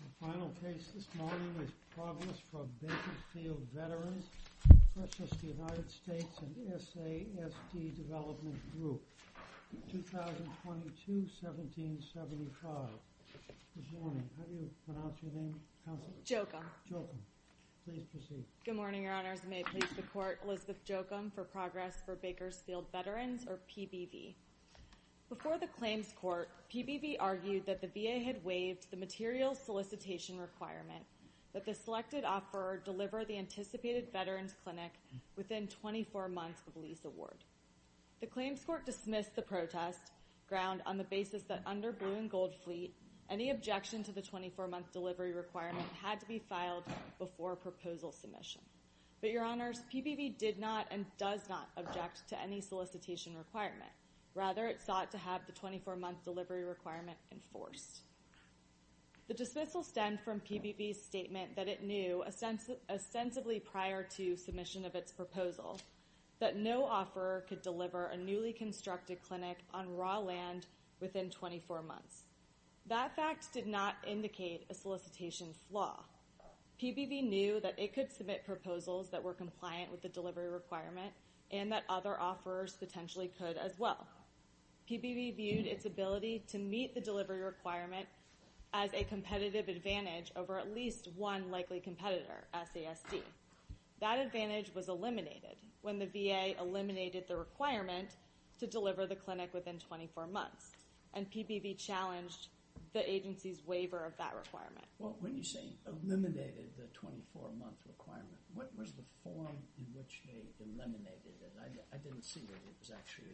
The final case this morning is Progress for Bakersfield Veterans, Precious to the United States, and SASD Development Group, 2022-1775. Good morning. How do you pronounce your name, Counsel? Jokum. Jokum. Please proceed. Good morning, Your Honors. I may please the Court, Elizabeth Jokum, for Progress for Bakersfield Veterans, or PBV. Before the claims court, PBV argued that the VA had waived the material solicitation requirement that the selected offeror deliver the anticipated veterans clinic within 24 months of lease award. The claims court dismissed the protest, ground on the basis that under Boo and Goldfleet, any objection to the 24-month delivery requirement had to be filed before proposal submission. But, Your Honors, PBV did not and does not object to any solicitation requirement. Rather, it enforced. The dismissal stemmed from PBV's statement that it knew, ostensibly prior to submission of its proposal, that no offeror could deliver a newly constructed clinic on raw land within 24 months. That fact did not indicate a solicitation flaw. PBV knew that it could submit proposals that were compliant with the delivery requirement and that other the delivery requirement as a competitive advantage over at least one likely competitor, SASD. That advantage was eliminated when the VA eliminated the requirement to deliver the clinic within 24 months, and PBV challenged the agency's waiver of that requirement. Well, when you say eliminated the 24-month requirement, what was the form in which they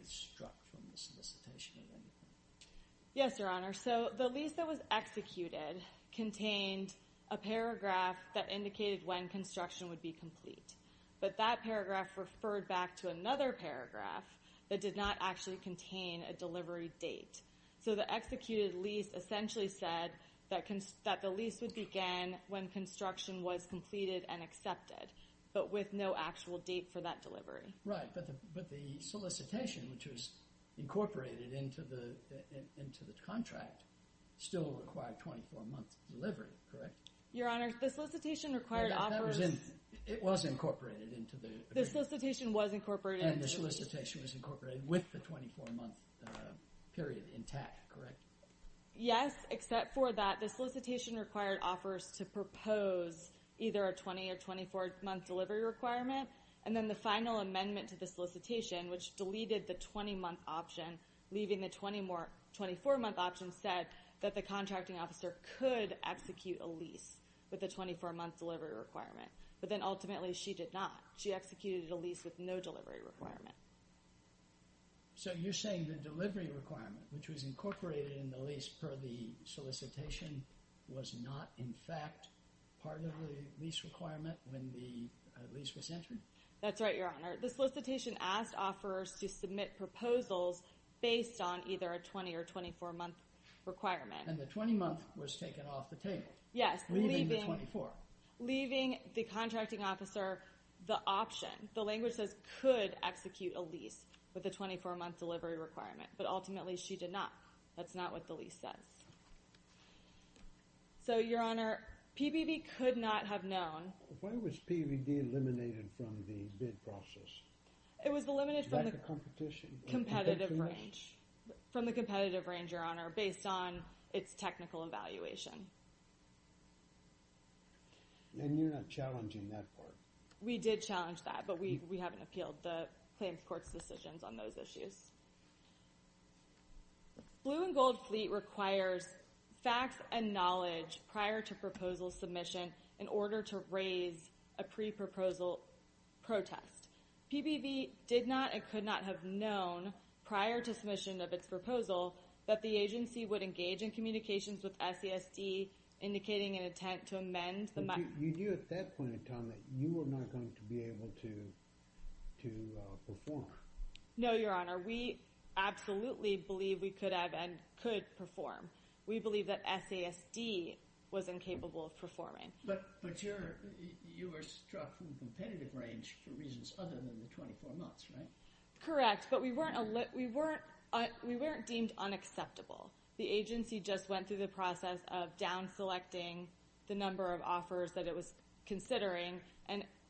struck from the solicitation? Yes, Your Honor. So, the lease that was executed contained a paragraph that indicated when construction would be complete, but that paragraph referred back to another paragraph that did not actually contain a delivery date. So, the executed lease essentially said that the lease would begin when construction was completed and which was incorporated into the contract still required 24-month delivery, correct? Your Honor, the solicitation required offers... It was incorporated into the agreement. The solicitation was incorporated... And the solicitation was incorporated with the 24-month period intact, correct? Yes, except for that the solicitation required offers to propose either a 20- or 24-month delivery requirement and then the final amendment to the solicitation, which deleted the 20-month option, leaving the 24-month option set that the contracting officer could execute a lease with a 24-month delivery requirement. But then ultimately she did not. She executed a lease with no delivery requirement. So, you're saying the delivery requirement, which was incorporated in the lease per the solicitation, was not in fact part of the lease requirement when the lease was entered? That's right, Your Honor. The solicitation required offers to submit proposals based on either a 20- or 24-month requirement. And the 20-month was taken off the table? Yes. Leaving the 24. Leaving the contracting officer the option, the language says could execute a lease with a 24-month delivery requirement, but ultimately she did not. That's not what the lease says. So, Your Honor, PBB could not have known... Why was PBB eliminated from the bid process? It was eliminated from the competitive range. From the competitive range, Your Honor, based on its technical evaluation. And you're not challenging that part? We did challenge that, but we haven't appealed the claims court's decisions on those issues. Blue and Gold Fleet requires facts and knowledge prior to proposal submission in order to raise a pre-proposal protest. PBB did not and could not have known prior to submission of its proposal that the agency would engage in communications with SASD indicating an intent to amend... But you knew at that point in time that you were not going to be able to perform? No, Your Honor. We absolutely believe we could have and could perform. We believe that SASD was incapable of performing. But you were struck from the competitive range for reasons other than the 24 months, right? Correct, but we weren't deemed unacceptable. The agency just went through the process of down selecting the number of offers that it was considering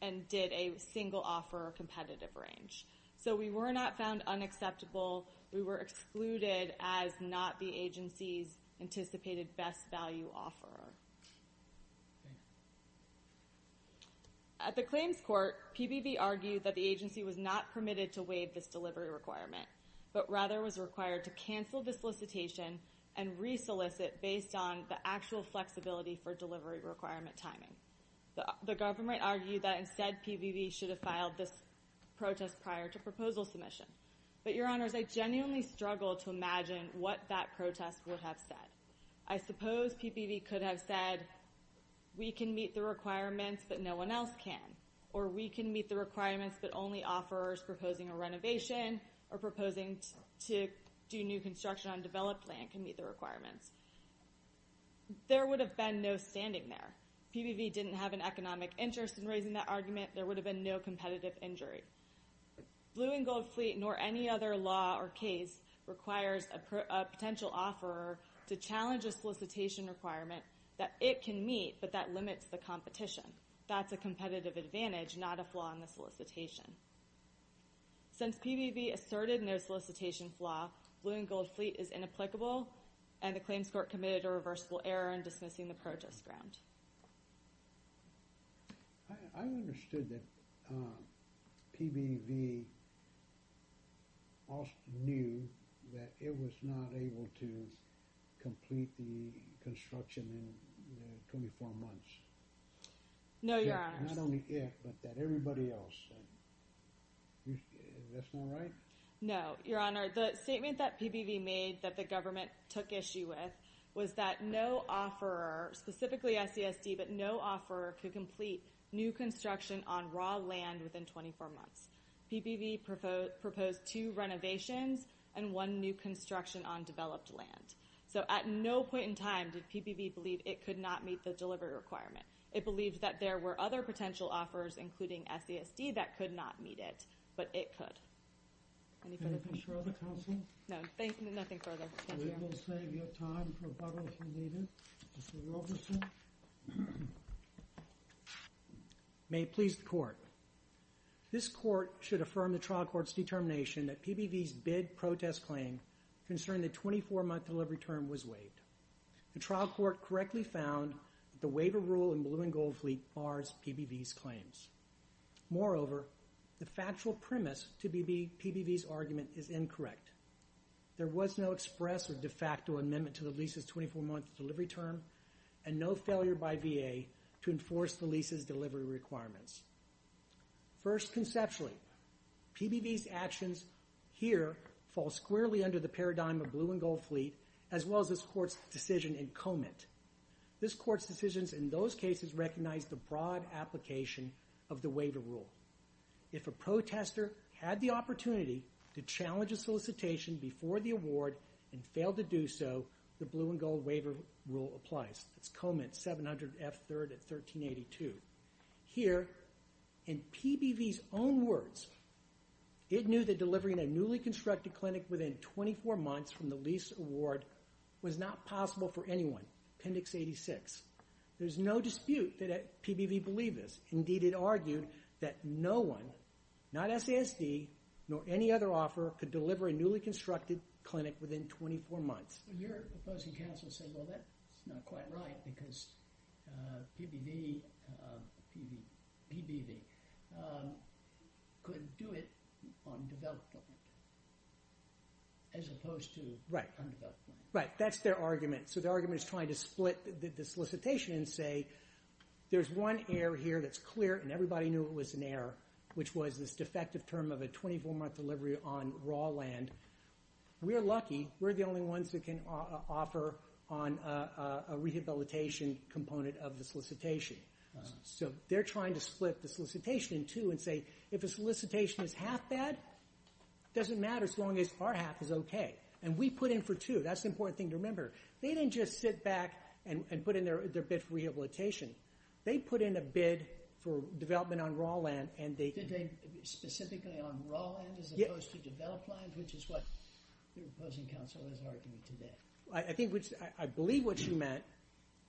and did a single offer competitive range. So we were not found unacceptable. We were At the claims court, PBB argued that the agency was not permitted to waive this delivery requirement, but rather was required to cancel the solicitation and re-solicit based on the actual flexibility for delivery requirement timing. The government argued that instead PBB should have filed this protest prior to proposal submission. But, Your Honors, I genuinely struggle to imagine what that protest would have said. I suppose PBB could have said, we can meet the requirements, but no one else can. Or we can meet the requirements, but only offers proposing a renovation or proposing to do new construction on developed land can meet the requirements. There would have been no standing there. PBB didn't have an economic interest in raising that argument. There would have been no competitive injury. Blue and Gold Fleet requires a potential offer to challenge a solicitation requirement that it can meet, but that limits the competition. That's a competitive advantage, not a flaw in the solicitation. Since PBB asserted no solicitation flaw, Blue and Gold Fleet is inapplicable and the claims court committed a reversible error in dismissing the protest grant. I understood that PBV knew that it was not able to complete the construction in 24 months. No, Your Honors. Not only it, but everybody else. Is that not right? No, Your Honor. The statement that PBV made that the government took issue with was that no offerer, specifically SESD, but no offerer could complete new construction on raw land within 24 months. PBV proposed two renovations and one new construction on developed land. So at no point in time did PBV believe it could not meet the delivery requirement. It believed that there were other potential offers, including SESD, that could not meet it, but it could. Anything further, Counsel? No, nothing further. We will save you time for rebuttal if you need it. Mr. Roberson? May it please the Court. This Court should affirm the trial court's determination that PBV's bid protest claim concerning the 24-month delivery term was waived. The trial court correctly found that the waiver rule in Blue and Gold Fleet bars PBV's claims. Moreover, the factual amendment to the lease's 24-month delivery term and no failure by VA to enforce the lease's delivery requirements. First, conceptually, PBV's actions here fall squarely under the paradigm of Blue and Gold Fleet, as well as this Court's decision in Comet. This Court's decisions in those cases recognize the broad application of the waiver rule. If a protester had the opportunity to apply and failed to do so, the Blue and Gold waiver rule applies. That's Comet 700F3 at 1382. Here, in PBV's own words, it knew that delivering a newly constructed clinic within 24 months from the lease award was not possible for anyone, Appendix 86. There's no dispute that PBV believed this. Indeed, it argued that no one, not SESD, nor any other offer could deliver a newly constructed clinic within 24 months. Your opposing counsel is saying, well, that's not quite right, because PBV could do it on developed equipment, as opposed to undeveloped equipment. Right. That's their argument. So their argument is trying to split the solicitation and say, there's one error here that's clear, and everybody knew it was an error, which was this defective term of a 24-month delivery on raw land. We are lucky. We're the only ones that can offer on a rehabilitation component of the solicitation. So they're trying to split the solicitation in two and say, if a solicitation is half bad, it doesn't matter as long as our half is okay. And we put in for two. That's the important thing to remember. They didn't just sit back and put in their bid for rehabilitation. They put in a bid for development on raw land specifically on raw land as opposed to developed land, which is what your opposing counsel is arguing today. I believe what you meant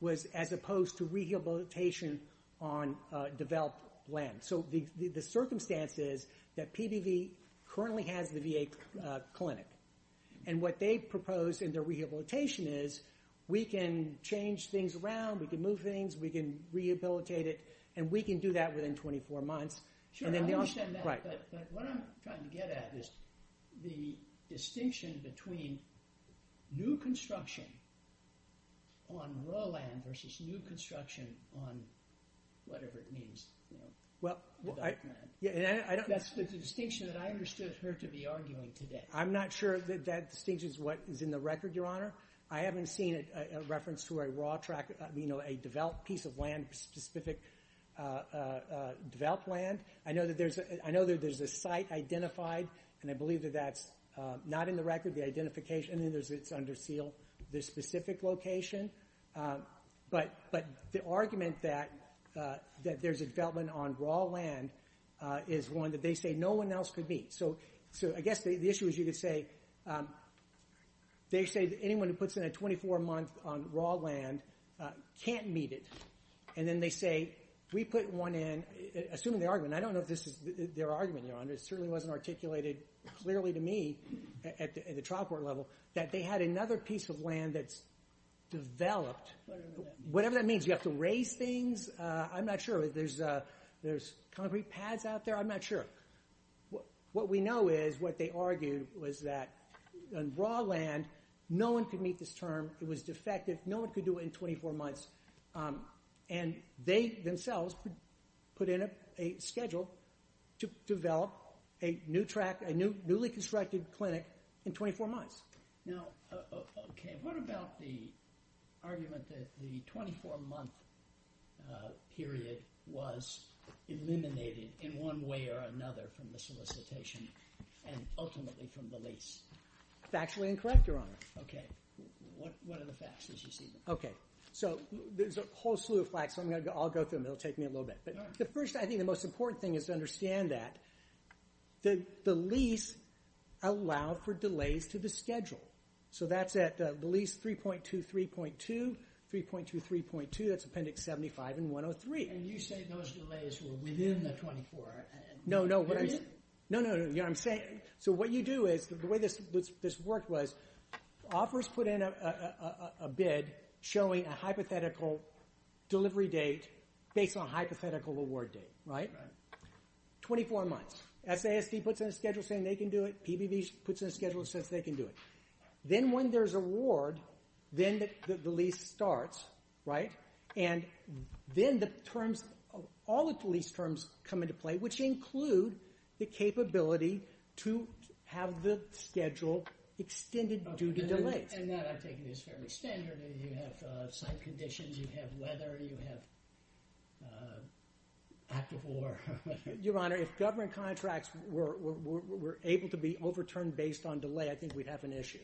was as opposed to rehabilitation on developed land. So the circumstance is that PBV currently has the VA clinic. And what they propose in their rehabilitation is, we can change things around. We can move things. We can rehabilitate it. And we can do that within 24 months. Sure, I understand that. But what I'm trying to get at is the distinction between new construction on raw land versus new construction on whatever it means, you know, developed land. That's the distinction that I understood her to be arguing today. I'm not sure that that distinction is what is in the record, Your Honor. I haven't developed land. I know that there's a site identified. And I believe that that's not in the record, the identification. And then it's under seal, the specific location. But the argument that there's a development on raw land is one that they say no one else could meet. So I guess the issue is, you could say, they say that anyone who puts in a 24 month on raw land can't meet it. And then they say, we put one in, assuming the argument. I don't know if this is their argument, Your Honor. It certainly wasn't articulated clearly to me at the trial court level that they had another piece of land that's developed. Whatever that means. You have to raise things. I'm not sure. There's concrete pads out there. I'm not sure. What we know is, what they argued was that on raw land, no one could meet this defective, no one could do it in 24 months. And they themselves put in a schedule to develop a new track, a newly constructed clinic in 24 months. Now, okay, what about the argument that the 24 month period was eliminated in one way or another from the solicitation and ultimately from the lease? Factually incorrect, Your Honor. Okay. What are the facts as you see them? Okay. So there's a whole slew of facts. I'll go through them. It'll take me a little bit. But first, I think the most important thing is to understand that the lease allowed for delays to the schedule. So that's at the lease 3.2, 3.2, 3.2, 3.2. That's Appendix 75 and 103. And you say those delays were within the 24. No, no. So what you do is, the way this worked was, offers put in a bid showing a hypothetical delivery date based on a hypothetical award date, right? 24 months. SASD puts in a schedule saying they can do it. PBB puts in a schedule that says they can do it. Then when there's award, then the lease starts, right? And then the terms, all the lease terms come into play, which include the capability to have the schedule extended due to delays. And that, I'm taking, is fairly standard. You have site conditions, you have weather, you have active war. Your Honor, if government contracts were able to be overturned based on delay, I think we'd have an issue.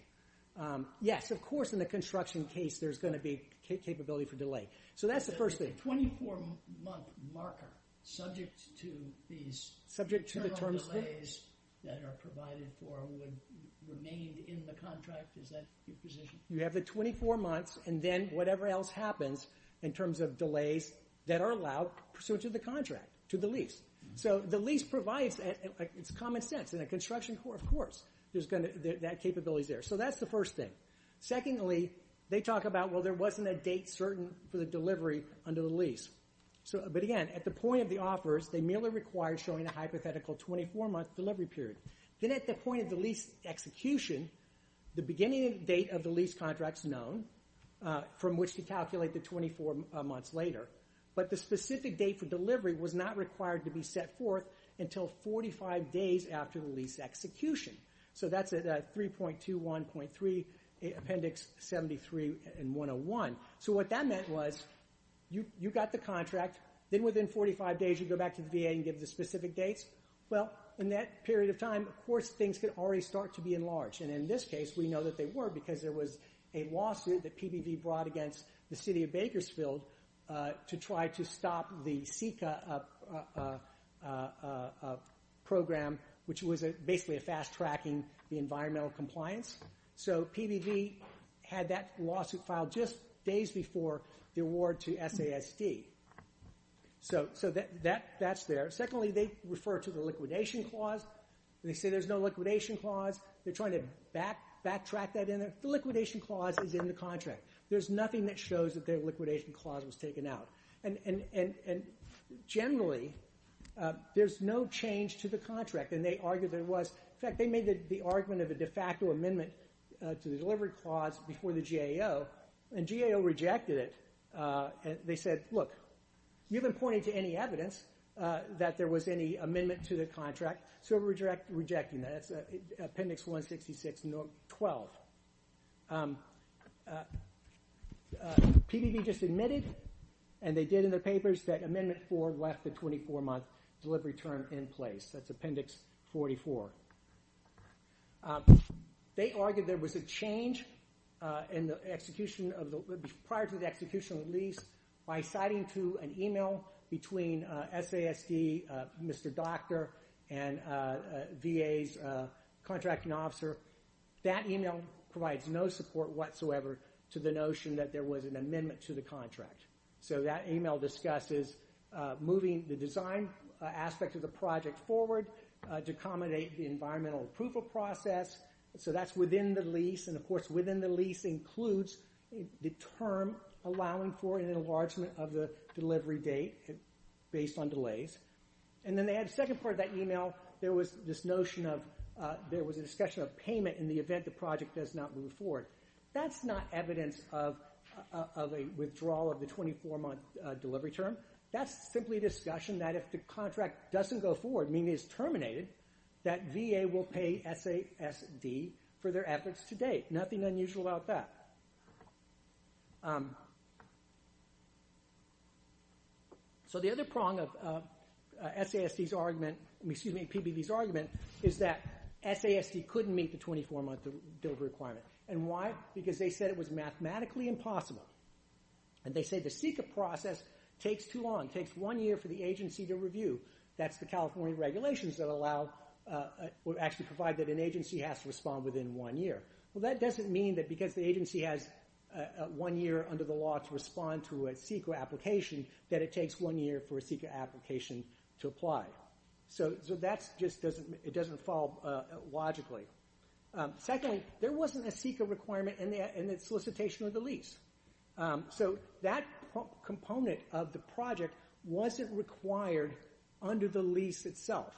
Yes, of course, in the construction case, there's going to be capability for delay. So that's the first thing. A 24-month marker, subject to these internal delays that are provided for, would remain in the contract? Is that your position? You have the 24 months, and then whatever else happens in terms of delays that are allowed pursuant to the contract, to the lease. So the lease provides, it's common sense. In a construction court, of course, that capability's there. So that's the first thing. Secondly, they talk about, well, there wasn't a date certain for the delivery under the lease. But again, at the point of the offers, they merely require showing a hypothetical 24-month delivery period. Then at the point of the lease execution, the beginning date of the lease contract's known, from which to calculate the 24 months later. But the specific date for delivery was not required to be set forth until 45 days after the lease execution. So that's at 3.21.3 Appendix 73 and 101. So what that meant was, you got the contract. Then within 45 days, you go back to the VA and give the specific dates. Well, in that period of time, of course, things could already start to be enlarged. And in this case, we know that they were, because there was a lawsuit that PBB brought against the city of Bakersfield to try to stop the SECA program, which was basically a fast-tracking environmental compliance. So PBB had that lawsuit filed just days before the award to SASD. So that's there. Secondly, they refer to the liquidation clause. They say there's no liquidation clause. They're trying to backtrack that in. The liquidation clause is in the contract. There's nothing that shows that their liquidation clause was taken out. And generally, there's no change to the contract. In fact, they made the argument of a de facto amendment to the delivery clause before the GAO, and GAO rejected it. They said, look, you haven't pointed to any evidence that there was any amendment to the contract, so we're rejecting that. That's PBB just admitted, and they did in their papers, that Amendment 4 left the 24-month delivery term in place. That's Appendix 44. They argued there was a change in the execution of the, prior to the execution of the lease, by citing to an email between SASD, Mr. Doctor, and the notion that there was an amendment to the contract. So that email discusses moving the design aspect of the project forward to accommodate the environmental approval process. So that's within the lease, and of course, within the lease includes the term allowing for an enlargement of the delivery date based on delays. And then they had a second part of that email. There was this notion of, there was a discussion of payment in the event the withdrawal of the 24-month delivery term. That's simply a discussion that if the contract doesn't go forward, meaning it's terminated, that VA will pay SASD for their efforts to date. Nothing unusual about that. So the other prong of PBB's argument is that SASD couldn't meet the 24-month delivery requirement. And why? Because they said it was mathematically impossible. And they say the CEQA process takes too long. It takes one year for the agency to review. That's the California regulations that allow, actually provide that an agency has to respond within one year. Well, that doesn't mean that because the agency has one year under the law to respond to a CEQA application, that it takes one year for a CEQA application to Secondly, there wasn't a CEQA requirement in the solicitation of the lease. So that component of the project wasn't required under the lease itself.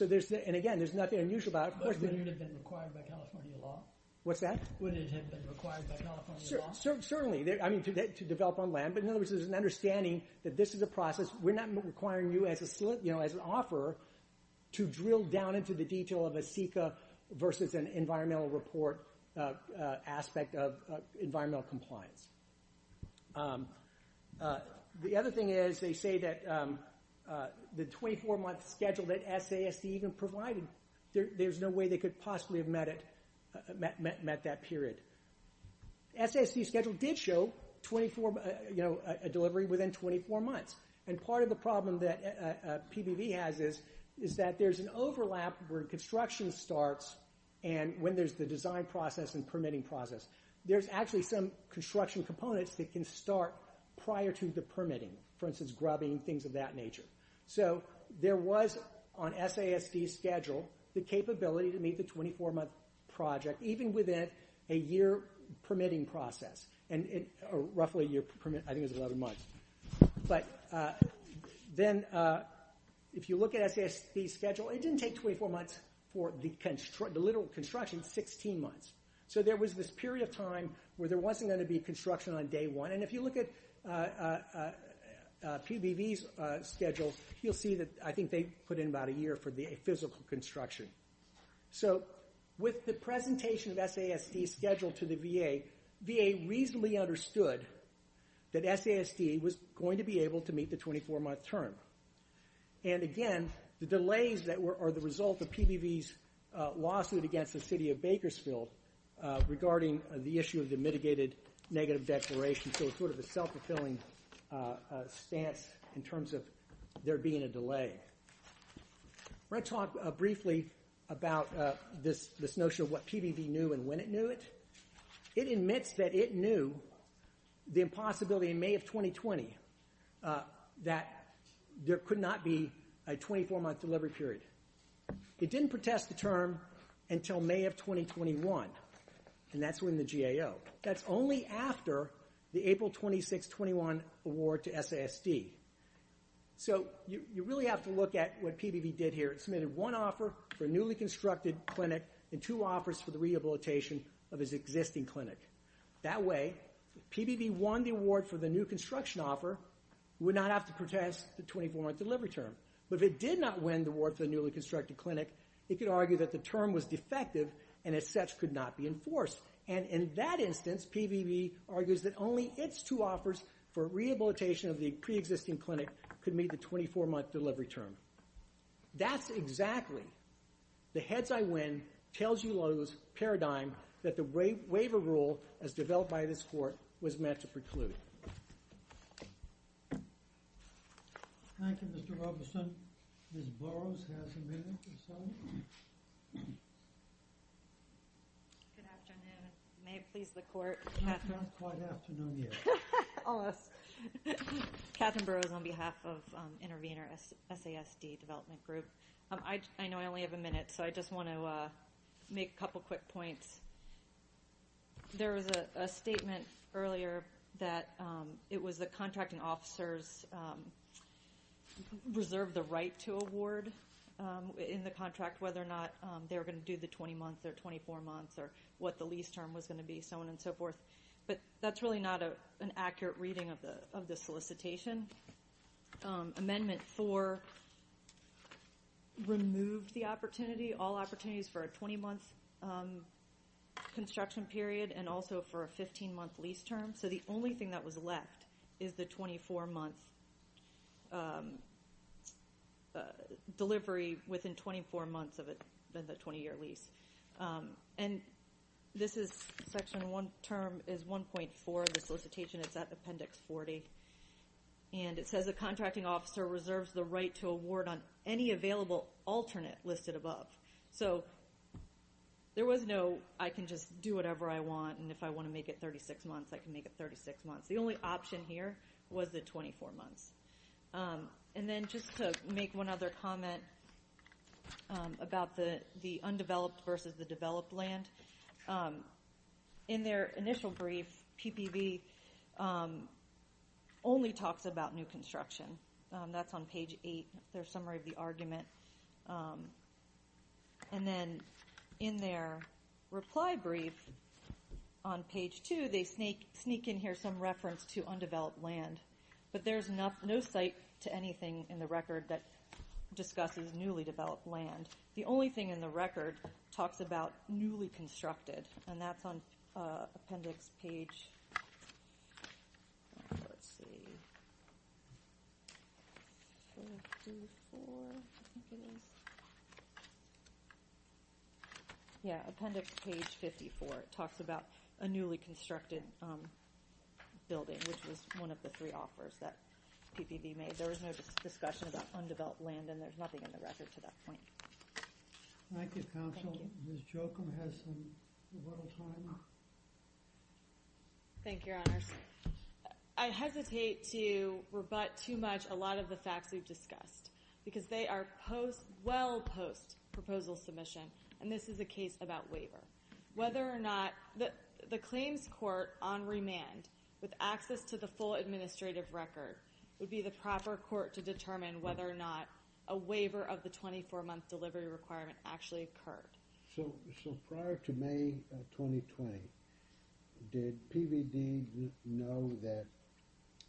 And again, there's nothing unusual about it. But wouldn't it have been required by California law? What's that? Wouldn't it have been required by California law? Certainly. I mean, to develop on land. But in other words, there's an understanding that this is a process. We're not requiring you as an offeror to drill down into the detail of a CEQA versus an environmental report aspect of environmental compliance. The other thing is, they say that the 24-month schedule that SASC even provided, there's no way they could possibly have met that period. SASC's schedule did show a delivery within 24 months. And part of the problem that PBV has is that there's an overlap where construction starts and when there's the design process and permitting process. There's actually some construction components that can start prior to the permitting. For instance, grubbing, things of that nature. So there was, on SASC's schedule, the capability to meet the 24-month project, even within a year permitting process. Or roughly a year permitting, I think it was 11 months. But then, if you look at SASC's schedule, it didn't take 24 months for the literal construction, 16 months. So there was this period of time where there wasn't going to be construction on day one. And if you look at PBV's schedule, you'll see that I think they put in about a year for the physical construction. So with the presentation of SASC's schedule to the VA, VA reasonably understood that SASC was going to be able to meet the 24-month term. And again, the delays that are the result of PBV's lawsuit against the city of Bakersfield regarding the issue of the mitigated negative declaration. So it's sort of a self-fulfilling stance in terms of there being a delay. I want to talk briefly about this notion of what PBV knew and when it knew it. It admits that it knew the impossibility in May of 2020 that there could not be a 24-month delivery period. It didn't protest the term until May of 2021. And that's when the GAO. That's only after the April 26, 21 award to SASD. So you really have to look at what PBV did here. It submitted one offer for a newly constructed clinic and two offers for the rehabilitation of its existing clinic. That way, if PBV won the award for the new construction offer, it would not have to protest the 24-month delivery term. But if it did not win the award for the newly constructed clinic, it could argue that the term was defective and as such could not be enforced. And in that instance, PBV argues that only its two offers for rehabilitation of the pre-existing clinic could meet the 24-month delivery term. That's exactly the heads-I-win, tails-you-lose paradigm that the waiver rule as developed by this court was meant to preclude. Thank you, Mr. Robinson. Ms. Burrows has a minute or so. Good afternoon. May it please the court. It's not quite afternoon yet. Catherine Burrows on behalf of Intervenor SASD Development Group. I know I only have a minute, so I just want to make a couple quick points. There was a statement earlier that it was the contracting officers' reserve the right to award in the contract whether or not they were going to do the 20-month or 24-month or what the lease term was going to be, so on and so forth. But that's really not an accurate reading of the solicitation. Amendment 4 removed the opportunity, all opportunities for a 20-month construction period and also for a 15-month lease term. So the only thing that was left is the 24-month delivery within 24 months of the 20-year lease. And this is Section 1 term is 1.4 of the solicitation. It's at Appendix 40. And it says the contracting officer reserves the right to award on any available alternate listed above. So there was no I can just do whatever I want and if I want to make it 36 months, I can make it 36 months. The only option here was the 24 months. And then just to make one other comment about the undeveloped versus the developed land, in their initial brief, PPB only talks about new construction. That's on page 8, their summary of the argument. And then in their reply brief on page 2, they sneak in here some reference to undeveloped land. But there's no site to anything in the record that discusses newly developed land. The only thing in the record talks about newly constructed. And that's on Appendix page 54. It talks about a newly constructed building, which was one of the three offers that PPB made. There was no discussion about undeveloped land. And there's nothing in the record to that point. Thank you, Counsel. Ms. Jochum has some little time. Thank you, Your Honors. I hesitate to rebut too much a lot of the facts we've discussed because they are well post-proposal submission. And this is a case about waiver. Whether or not the claims court on remand with access to the full administrative record would be the proper court to determine whether or not a waiver of the 24-month delivery requirement actually occurred. So prior to May 2020, did PBD know that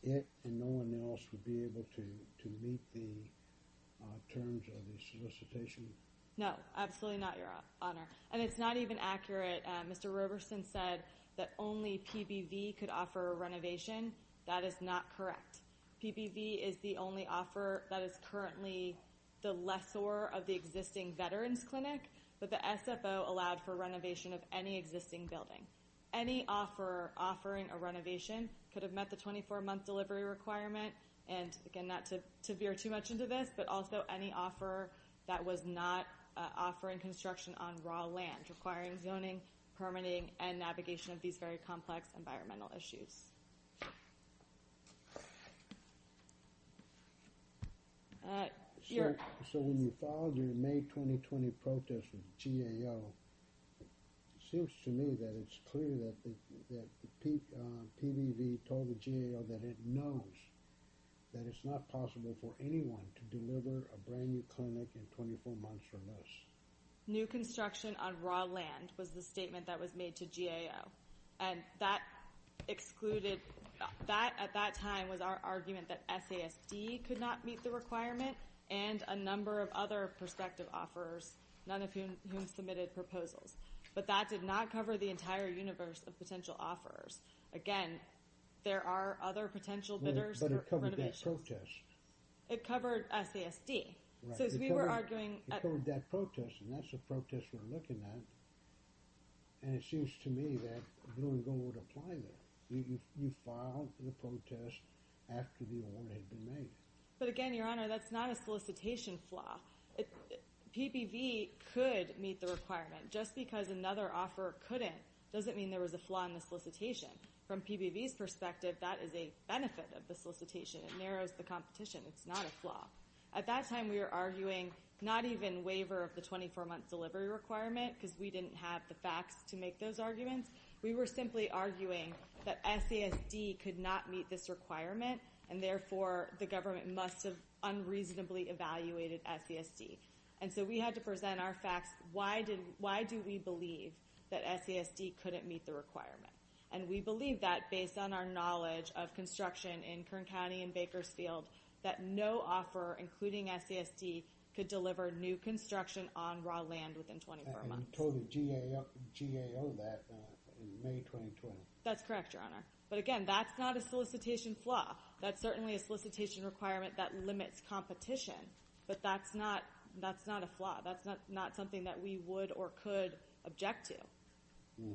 it and no one else would be able to meet the terms of the solicitation? No, absolutely not, Your Honor. And it's not even accurate. Mr. Roberson said that only PBV could offer a renovation. That is not correct. PBV is the only offer that is currently the lessor of the existing Veterans Clinic, but the SFO allowed for renovation of any existing building. Any offer offering a renovation could have met the 24-month delivery requirement. And again, not to veer too much into this, but also any offer that was not offering construction on raw land, requiring zoning, permitting, and navigation of these very complex environmental issues. So when you followed your May 2020 protest with GAO, it seems to me that it's clear that PBV told the GAO that it knows that it's not possible for anyone to deliver a brand new construction on raw land was the statement that was made to GAO. And that excluded, that at that time was our argument that SASD could not meet the requirement and a number of other prospective offerers, none of whom submitted proposals. But that did not cover the entire universe of potential offerers. Again, there are other potential bidders for renovation. It covered SASD. So as we were arguing... But again, Your Honor, that's not a solicitation flaw. PBV could meet the requirement. Just because another offer couldn't doesn't mean there was a flaw in the solicitation. From It's not a flaw. At that time, we were arguing not even waiver of the 24-month delivery requirement because we didn't have the facts to make those arguments. We were simply arguing that SASD could not meet this requirement, and therefore, the government must have unreasonably evaluated SASD. And so we had to present our facts. Why do we believe that SASD couldn't meet the requirement? And we believe that based on our knowledge of construction in Kern County and Bakersfield, that no offer, including SASD, could deliver new construction on raw land within 24 months. That's correct, Your Honor. But again, that's not a solicitation flaw. That's certainly a solicitation requirement that limits competition. But that's not a flaw. That's not something that we would or could object to.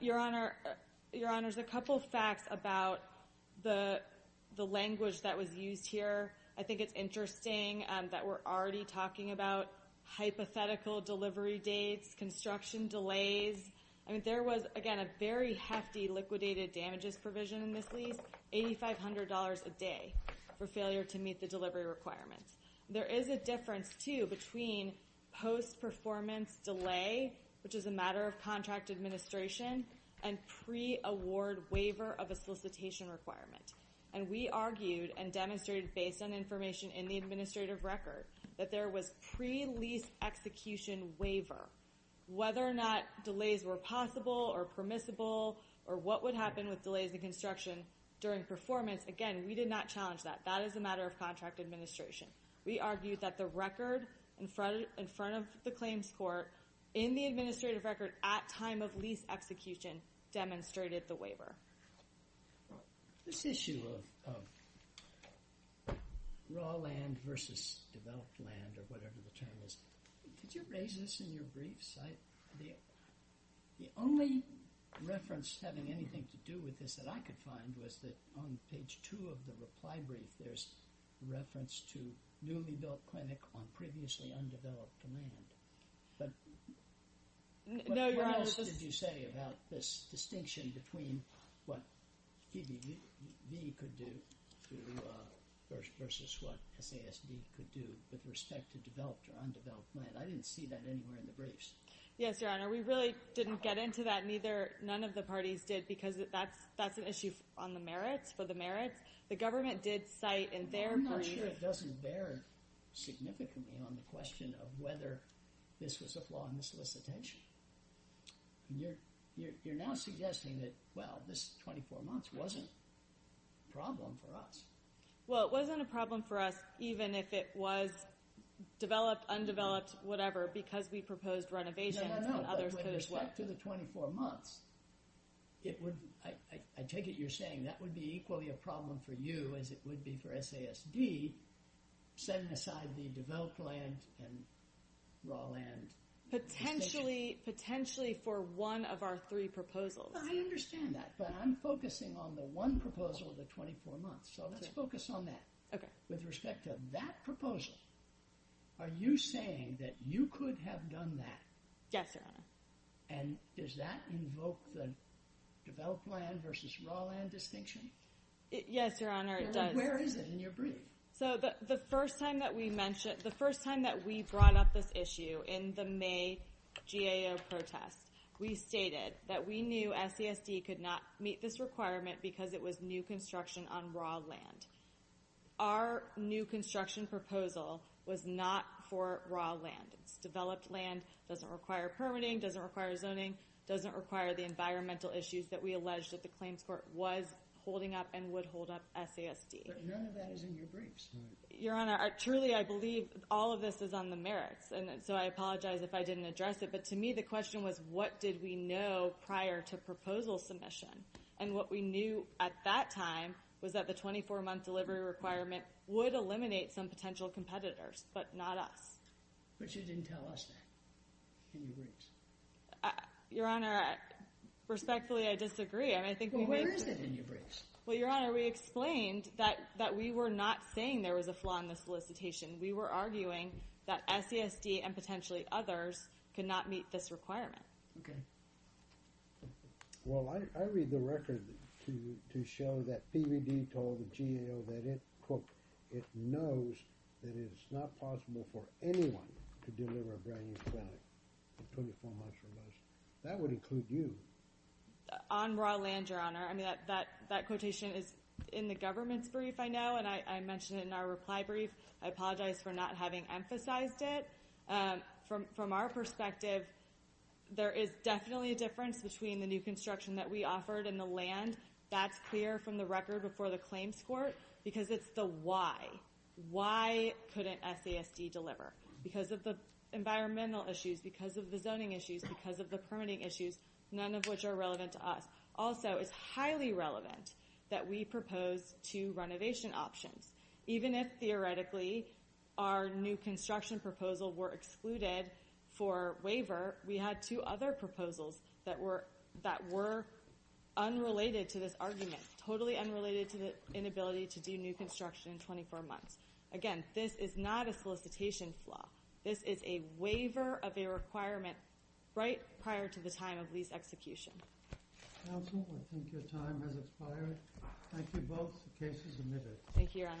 Your Honor, Your Honor, there's a couple of facts about the language that was used here. I think it's interesting that we're already talking about hypothetical delivery dates, construction delays. I mean, there was, again, a very hefty liquidated damages provision in this lease, $8,500 a day for failure to meet the delivery requirements. There is a pre-performance delay, which is a matter of contract administration, and pre-award waiver of a solicitation requirement. And we argued and demonstrated, based on information in the administrative record, that there was pre-lease execution waiver. Whether or not delays were possible or permissible or what would happen with delays in construction during performance, again, we did not challenge that. That is a matter of contract administration. We argued that the record in front of the claims court in the administrative record at time of lease execution demonstrated the waiver. This issue of raw land versus developed land or whatever the term is, could you raise this in your briefs? The only reference having anything to do with this that I could find was that on page two of the reply brief, there's reference to newly built clinic on previously undeveloped land. What else did you say about this distinction between what PBV could do versus what SASB could do with respect to developed or undeveloped land? I didn't see that anywhere in the briefs. Yes, Your Honor. We really didn't get into that, neither, none of the parties did, because that's an issue on the merits, for the merits. The government did cite in their brief... I'm not sure it doesn't bear significantly on the question of whether this was a flaw in the solicitation. You're now suggesting that, well, this 24 months wasn't a problem for us. Well, it wasn't a problem for us even if it was developed, undeveloped, whatever, because No, no, no. With respect to the 24 months, I take it you're saying that would be equally a problem for you as it would be for SASB setting aside the developed land and raw land... Potentially for one of our three proposals. I understand that, but I'm focusing on the one proposal of the 24 months, so let's focus on that. With respect to that proposal, are you saying that you could have done that? Yes, Your Honor. And does that invoke the developed land versus raw land distinction? Yes, Your Honor, it does. Where is it in your brief? So the first time that we brought up this issue in the May GAO protest, we stated that we knew SASB could not meet this requirement because it was new construction on raw land. Our new construction proposal was not for raw land. It's developed land, doesn't require permitting, doesn't require zoning, doesn't require the environmental issues that we alleged that the claims court was holding up and would hold up SASB. Your Honor, that is in your briefs. Your Honor, truly, I believe all of this is on the merits, so I apologize if I didn't address it, but to me the question was, what did we know prior to proposal submission? And what we knew at that time was that the 24-month delivery requirement would eliminate some potential competitors, but not us. But you didn't tell us that in your briefs. Your Honor, respectfully, I disagree. Well, where is it in your briefs? Well, Your Honor, we explained that we were not saying there was a flaw in the solicitation. We were arguing that SASB and potentially others could not meet this requirement. Okay. Well, I read the record to show that PVD told the GAO that it, quote, it knows that it is not possible for anyone to deliver a brand-new clinic 24 months from now. That would include you. On raw land, Your Honor. I mean, that quotation is in the government's brief, I know, and I mentioned it in our reply brief. I apologize for not having emphasized it. From our perspective, there is definitely a difference between the new construction that we offered and the land that's clear from the record before the claims court because it's the why. Why couldn't SASB deliver? Because of the environmental issues, because of the zoning issues, because of the permitting issues, none of which are relevant to us. Also, it's highly relevant that we propose two renovation options. Even if, theoretically, our new construction proposal were excluded for waiver, we had two other proposals that were unrelated to this argument, totally unrelated to the inability to do new construction in 24 months. Again, this is not a solicitation flaw. This is a waiver of a requirement right prior to the time of lease execution. Counsel, I think your time has expired. Thank you both. The case is admitted. Thank you, Your Honor.